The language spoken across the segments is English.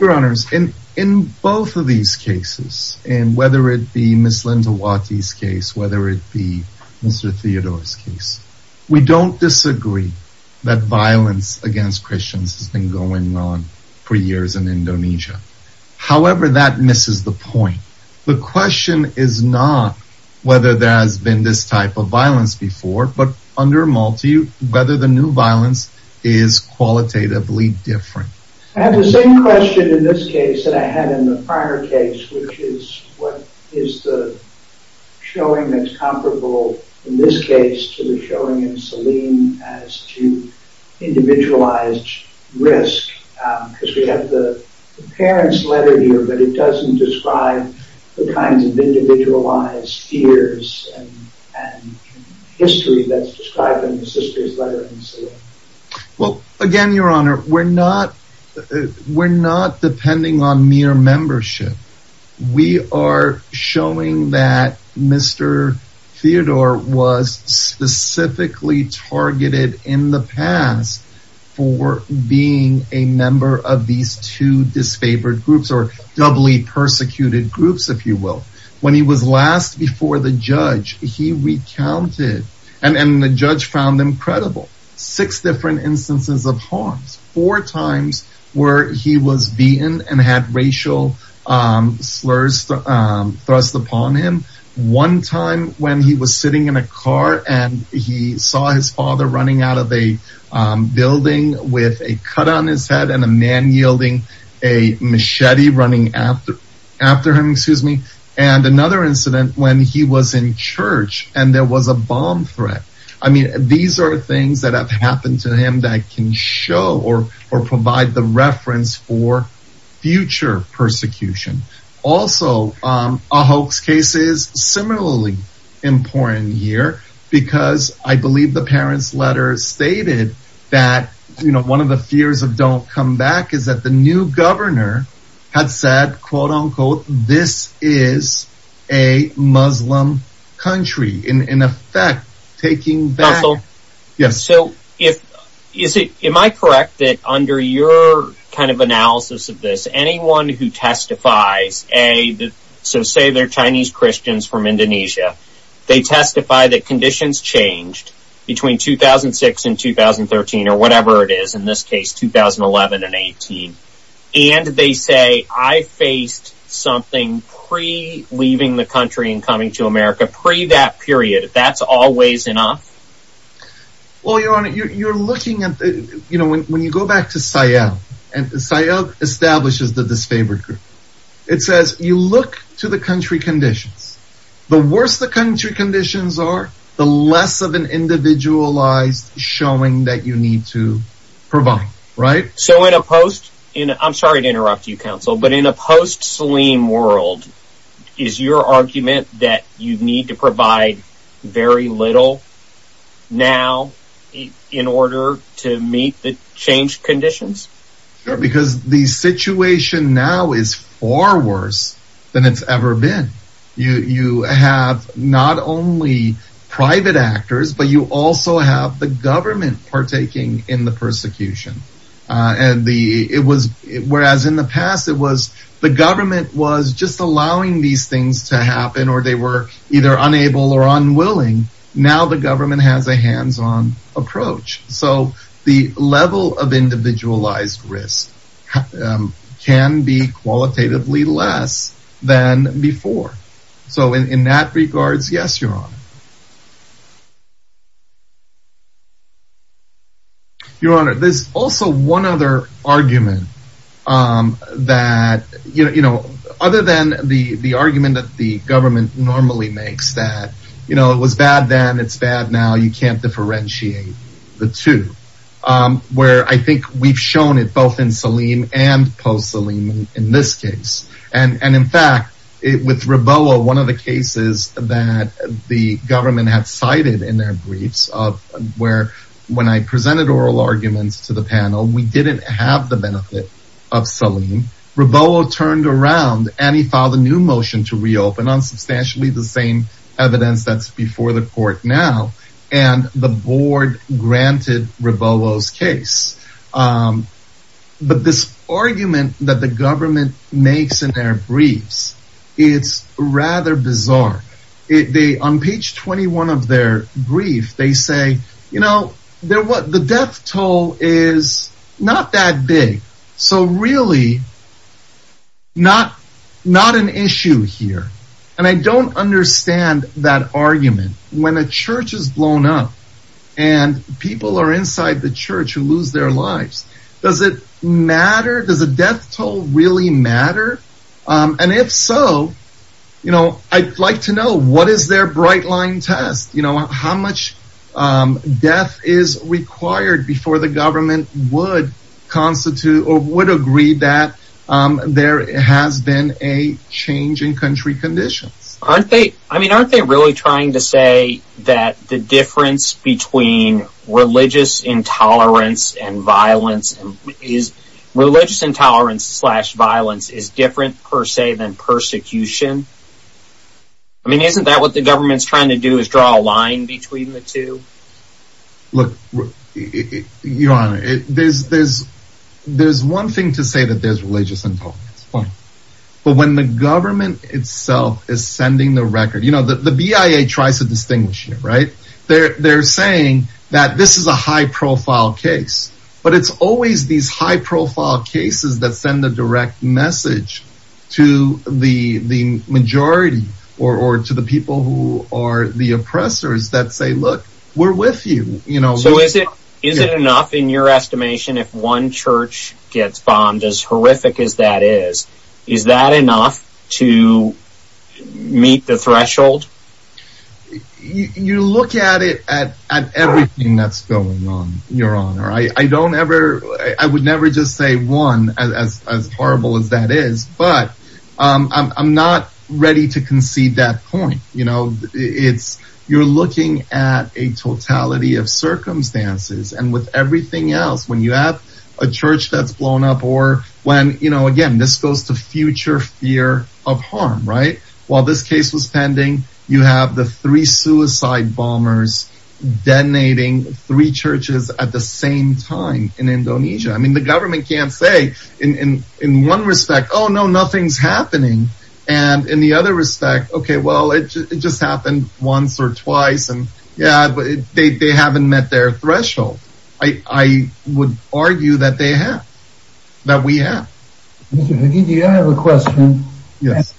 We don't disagree that violence against Christians has been going on for years in Indonesia. However, that misses the point. The question is not whether there has been this type of violence before, but whether the new violence is qualitatively different. I have the same question in this case that I had in the prior case, which is what is the showing that's comparable in this case to the showing in Salim as to individualized risk? Because we have the parents' letter here, but it doesn't describe the kinds of individualized fears and history that's described in the sister's letter in Salim. Well, again, Your Honor, we're not depending on mere membership. We are showing that Mr. Theodore was specifically targeted in the past for being a member of these two disfavored groups or doubly persecuted groups, if you will. When he was last before the judge, he recounted, and the judge found them credible, six different instances of harms, four times where he was beaten and had racial slurs thrust upon him. One time when he was sitting in a car and he saw his father running out of a building with a cut on his head and a man yielding a machete running after him. And another incident when he was in church and there was a bomb threat. I mean, these are things that have happened to him that can show or provide the reference for future persecution. Also, a hoax case is similarly important here because I believe the parents' letter stated that, you know, one of the fears of don't come back is that the new governor had said, quote unquote, this is a Muslim country in effect, taking battle. So, am I correct that under your kind of analysis of this, anyone who testifies, so say they're Chinese Christians from Indonesia, they testify that conditions changed between 2006 and 2013 or whatever it is, in this case, 2011 and 18. And they say, I faced something pre-leaving the country and coming to America, pre that period, that's always enough? Well, your honor, you're looking at, you know, when you go back to Sayal, and Sayal establishes the disfavored group, it says, you look to the country conditions. The worse the country conditions are, the less of an individualized showing that you need to provide, right? So, in a post, I'm sorry to interrupt you, counsel, but in a post-Saleem world, is your argument that you need to provide very little now in order to meet the changed conditions? Because the situation now is far worse than it's ever been. You have not only private actors, but you also have the government partaking in the persecution. And it was, whereas in the past, it was the government was just allowing these things to happen or they were either unable or unwilling. Now, the government has a hands-on approach. So, the level of individualized risk can be qualitatively less than before. So, in that regards, yes, your honor. Your honor, there's also one other argument that, you know, other than the argument that the government normally makes that, you know, it was bad then, it's bad now, you can't differentiate the two. Where I think we've shown it both in Saleem and post-Saleem in this case. And in fact, with Raboah, one of the cases that the government had cited in their briefs of where when I presented oral arguments to the panel, we didn't have the benefit of Saleem. And Raboah turned around and he filed a new motion to reopen on substantially the same evidence that's before the court now. And the board granted Raboah's case. But this argument that the government makes in their briefs, it's rather bizarre. On page 21 of their brief, they say, you know, the death toll is not that big. So, really, not an issue here. And I don't understand that argument. When a church is blown up and people are inside the church who lose their lives, does it matter? Does the death toll really matter? And if so, you know, I'd like to know, what is their bright line test? You know, how much death is required before the government would constitute or would agree that there has been a change in country conditions? Aren't they? I mean, aren't they really trying to say that the difference between religious intolerance and violence is religious intolerance slash violence is different per se than persecution? I mean, isn't that what the government's trying to do is draw a line between the two? Look, Your Honor, there's one thing to say that there's religious intolerance. But when the government itself is sending the record, you know, the BIA tries to distinguish here, right? They're saying that this is a high profile case, but it's always these high profile cases that send a direct message to the majority or to the people who are the oppressors that say, look, we're with you. You know, so is it is it enough in your estimation if one church gets bombed as horrific as that is, is that enough to meet the threshold? You look at it at everything that's going on, Your Honor. I don't ever I would never just say one as horrible as that is. But I'm not ready to concede that point. You know, it's you're looking at a totality of circumstances and with everything else when you have a church that's blown up or when you know, again, this goes to future fear of harm, right? While this case was pending, you have the three suicide bombers detonating three churches at the same time in Indonesia. I mean, the government can't say in one respect, oh, no, nothing's happening. And in the other respect, okay, well, it just happened once or twice. And yeah, they haven't met their threshold. I would argue that they have that we have. I have a question. Yes.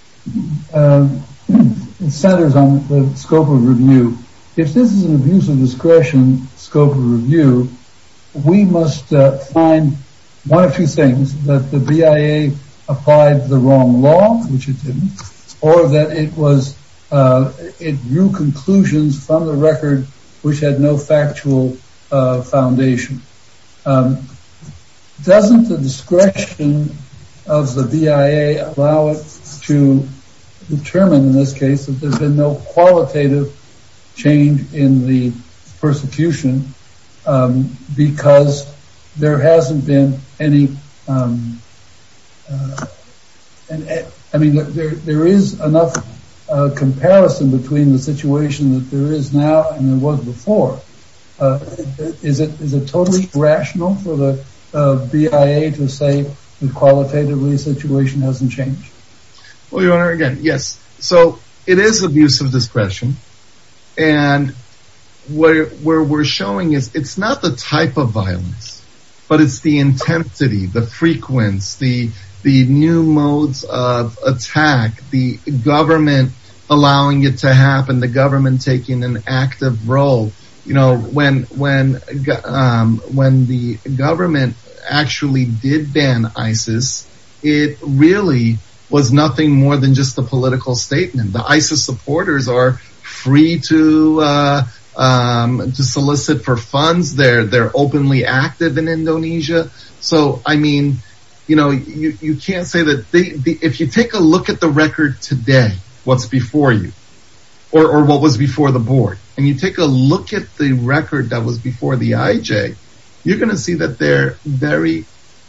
Doesn't the discretion of the BIA allow it to determine in this case that there's been no qualitative change in the persecution? Because there hasn't been any. And I mean, there is enough comparison between the situation that there is now and there was before. Is it is it totally rational for the BIA to say the qualitatively situation hasn't changed? Well, your Honor, again, yes. So it is abuse of discretion. And where we're showing is it's not the type of violence, but it's the intensity, the frequency, the new modes of attack, the government allowing it to happen, the government taking an active role. When the government actually did ban ISIS, it really was nothing more than just a political statement. The ISIS supporters are free to solicit for funds. They're openly active in Indonesia. So, I mean, you know, you can't say that if you take a look at the record today, what's before you or what was before the board and you take a look at the record that was before the IJ, you're going to see that they're very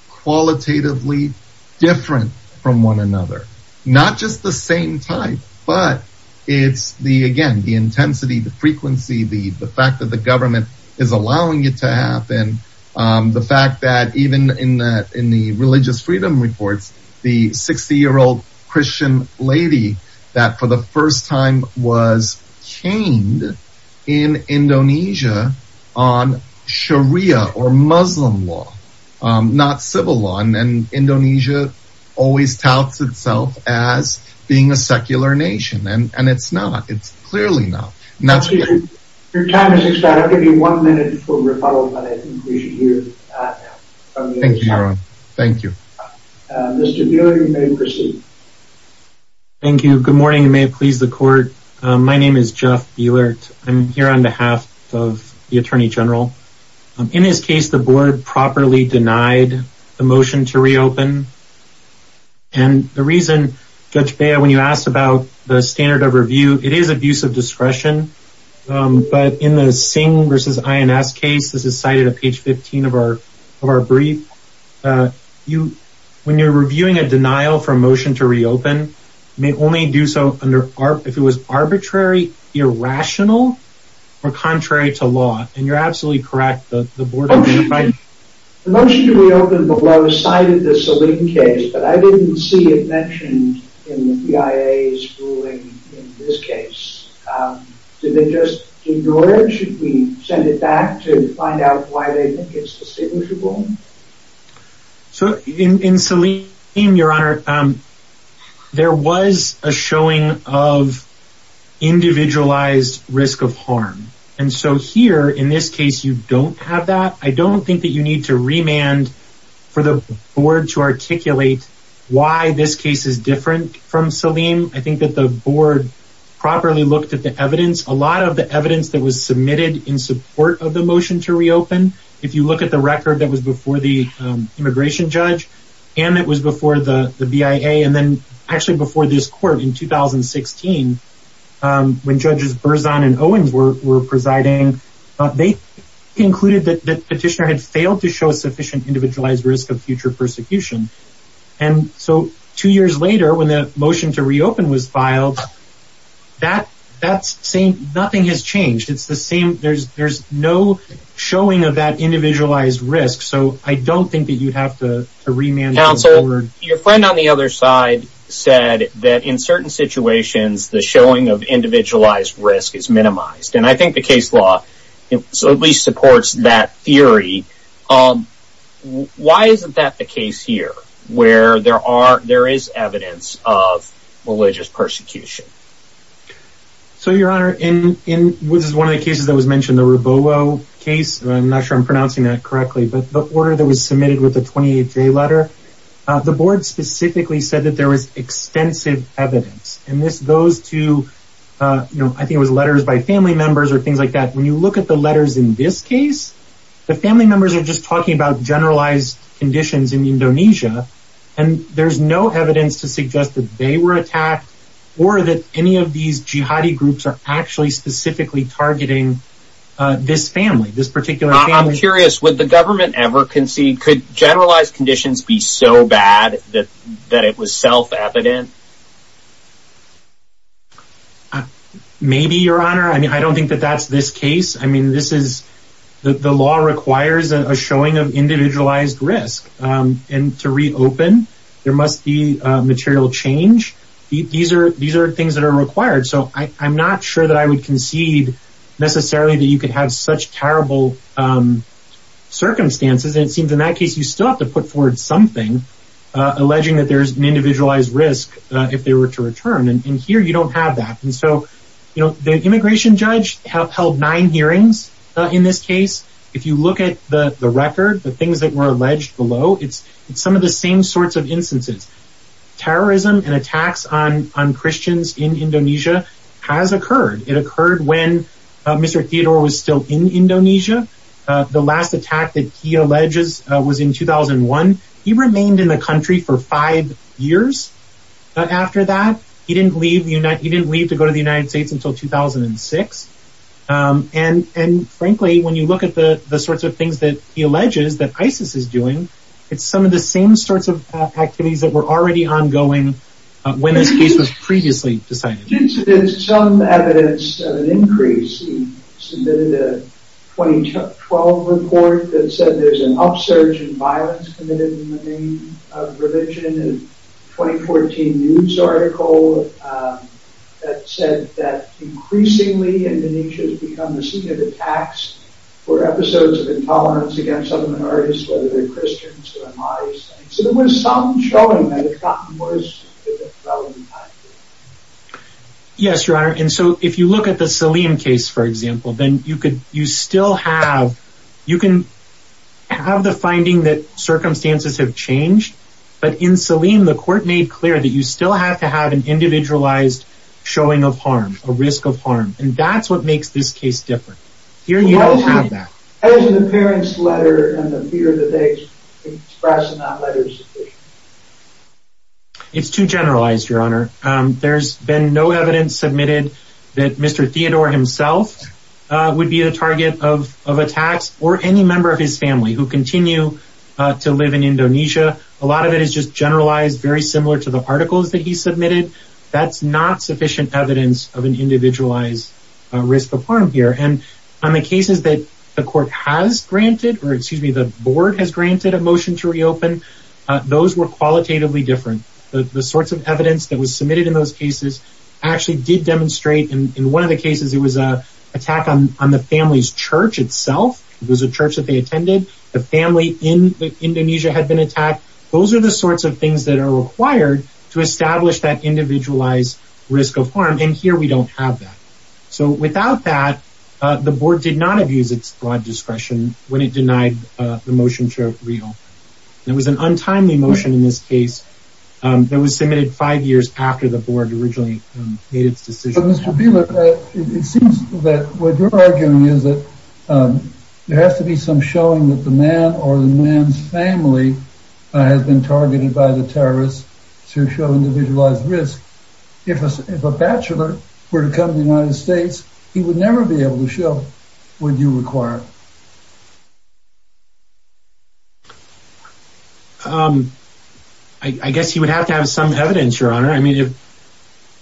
qualitatively different from one another. Not just the same time, but it's the again, the intensity, the frequency, the fact that the government is allowing it to happen. The fact that even in the religious freedom reports, the 60 year old Christian lady that for the first time was chained in Indonesia on Sharia or Muslim law, not civil law. And Indonesia always touts itself as being a secular nation. And it's not. It's clearly not. Your time has expired. I'll give you one minute for rebuttal, but I think we should hear from you. Mr. Bielert, you may proceed. Thank you. Good morning. May it please the court. My name is Jeff Bielert. I'm here on behalf of the Attorney General. In this case, the board properly denied the motion to reopen. And the reason, Judge Bielert, when you asked about the standard of review, it is abuse of discretion. But in the Singh v. INS case, this is cited on page 15 of our brief. When you're reviewing a denial for a motion to reopen, you may only do so if it was arbitrary, irrational, or contrary to law. And you're absolutely correct. The motion to reopen below cited the Saleem case, but I didn't see it mentioned in the BIA's ruling in this case. Did they just ignore it? Should we send it back to find out why they think it's distinguishable? In Saleem, Your Honor, there was a showing of individualized risk of harm. And so here, in this case, you don't have that. I don't think that you need to remand for the board to articulate why this case is different from Saleem. I think that the board properly looked at the evidence. A lot of the evidence that was submitted in support of the motion to reopen, if you look at the record that was before the immigration judge, and it was before the BIA, and then actually before this court in 2016, when Judges Berzon and Owens were presiding, they concluded that the petitioner had failed to show sufficient individualized risk of future persecution. And so two years later, when the motion to reopen was filed, nothing has changed. There's no showing of that individualized risk, so I don't think that you'd have to remand the board. Counsel, your friend on the other side said that in certain situations, the showing of individualized risk is minimized. And I think the case law at least supports that theory. Why isn't that the case here, where there is evidence of religious persecution? So, Your Honor, in one of the cases that was mentioned, the Robogo case, I'm not sure I'm pronouncing that correctly, but the order that was submitted with the 28-J letter, the board specifically said that there was extensive evidence. And this goes to, I think it was letters by family members or things like that. When you look at the letters in this case, the family members are just talking about generalized conditions in Indonesia, and there's no evidence to suggest that they were attacked or that any of these jihadi groups are actually specifically targeting this family, this particular family. I'm curious, would the government ever concede? Could generalized conditions be so bad that it was self-evident? Maybe, Your Honor. I mean, I don't think that that's this case. I mean, the law requires a showing of individualized risk. And to reopen, there must be material change. These are things that are required. So I'm not sure that I would concede necessarily that you could have such terrible circumstances. It seems in that case, you still have to put forward something alleging that there's an individualized risk if they were to return. And here you don't have that. And so, you know, the immigration judge held nine hearings in this case. If you look at the record, the things that were alleged below, it's some of the same sorts of instances. Terrorism and attacks on Christians in Indonesia has occurred. It occurred when Mr. Theodore was still in Indonesia. The last attack that he alleges was in 2001. He remained in the country for five years after that. He didn't leave to go to the United States until 2006. And frankly, when you look at the sorts of things that he alleges that ISIS is doing, it's some of the same sorts of activities that were already ongoing when this case was previously decided. There's some evidence of an increase. He submitted a 2012 report that said there's an upsurge in violence committed in the name of religion. A 2014 news article that said that increasingly Indonesia has become the scene of attacks for episodes of intolerance against other minorities, whether they're Christians or Ahmadis. So there was some showing that it got worse. Yes, Your Honor. And so if you look at the Saleem case, for example, then you could, you still have, you can have the finding that circumstances have changed. But in Saleem, the court made clear that you still have to have an individualized showing of harm, a risk of harm. And that's what makes this case different. As an appearance letter and the fear that they express in that letter is sufficient. It's too generalized, Your Honor. There's been no evidence submitted that Mr. Theodore himself would be a target of attacks or any member of his family who continue to live in Indonesia. A lot of it is just generalized very similar to the articles that he submitted. That's not sufficient evidence of an individualized risk of harm here. And on the cases that the court has granted, or excuse me, the board has granted a motion to reopen, those were qualitatively different. The sorts of evidence that was submitted in those cases actually did demonstrate, in one of the cases it was an attack on the family's church itself. It was a church that they attended. The family in Indonesia had been attacked. Those are the sorts of things that are required to establish that individualized risk of harm. And here we don't have that. So without that, the board did not abuse its broad discretion when it denied the motion to reopen. It was an untimely motion in this case that was submitted five years after the board originally made its decision. Mr. Bieler, it seems that what you're arguing is that there has to be some showing that the man or the man's family has been targeted by the terrorists to show individualized risk. If a bachelor were to come to the United States, he would never be able to show what you require. I guess he would have to have some evidence, Your Honor.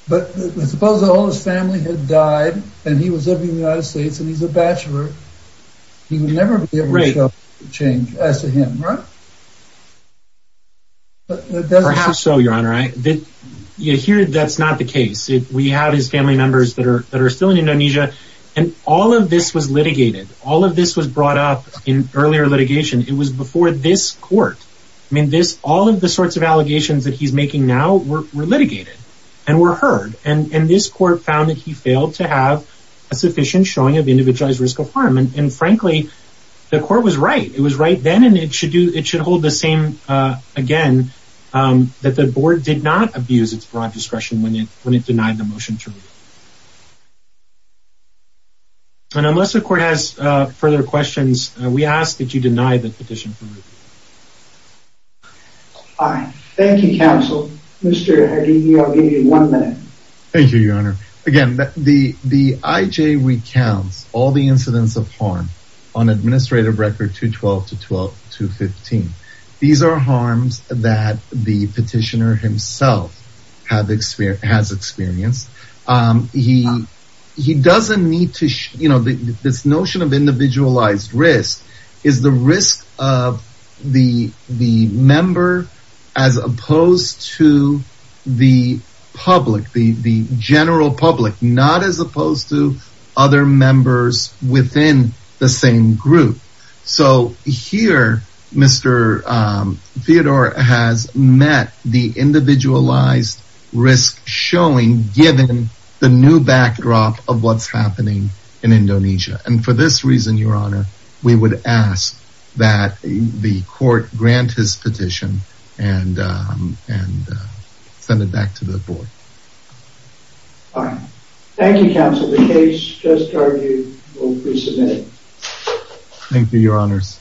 But suppose all his family had died and he was living in the United States and he's a bachelor. He would never be able to show the change as to him, right? Perhaps so, Your Honor. Here, that's not the case. We have his family members that are still in Indonesia. And all of this was litigated. All of this was brought up in earlier litigation. It was before this court. All of the sorts of allegations that he's making now were litigated and were heard. And this court found that he failed to have a sufficient showing of individualized risk of harm. And frankly, the court was right. It was right then and it should hold the same, again, that the board did not abuse its broad discretion when it denied the motion to review. And unless the court has further questions, we ask that you deny the petition for review. All right. Thank you, counsel. Mr. Hardy, I'll give you one minute. Thank you, Your Honor. Again, the IJ recounts all the incidents of harm on administrative record 212 to 215. These are harms that the petitioner himself has experienced. He doesn't need to, you know, this notion of individualized risk is the risk of the member as opposed to the public, the general public. Not as opposed to other members within the same group. So here, Mr. Theodore has met the individualized risk showing given the new backdrop of what's happening in Indonesia. And for this reason, Your Honor, we would ask that the court grant his petition and send it back to the board. All right. Thank you, counsel. The case just argued will be submitted. Thank you, Your Honors.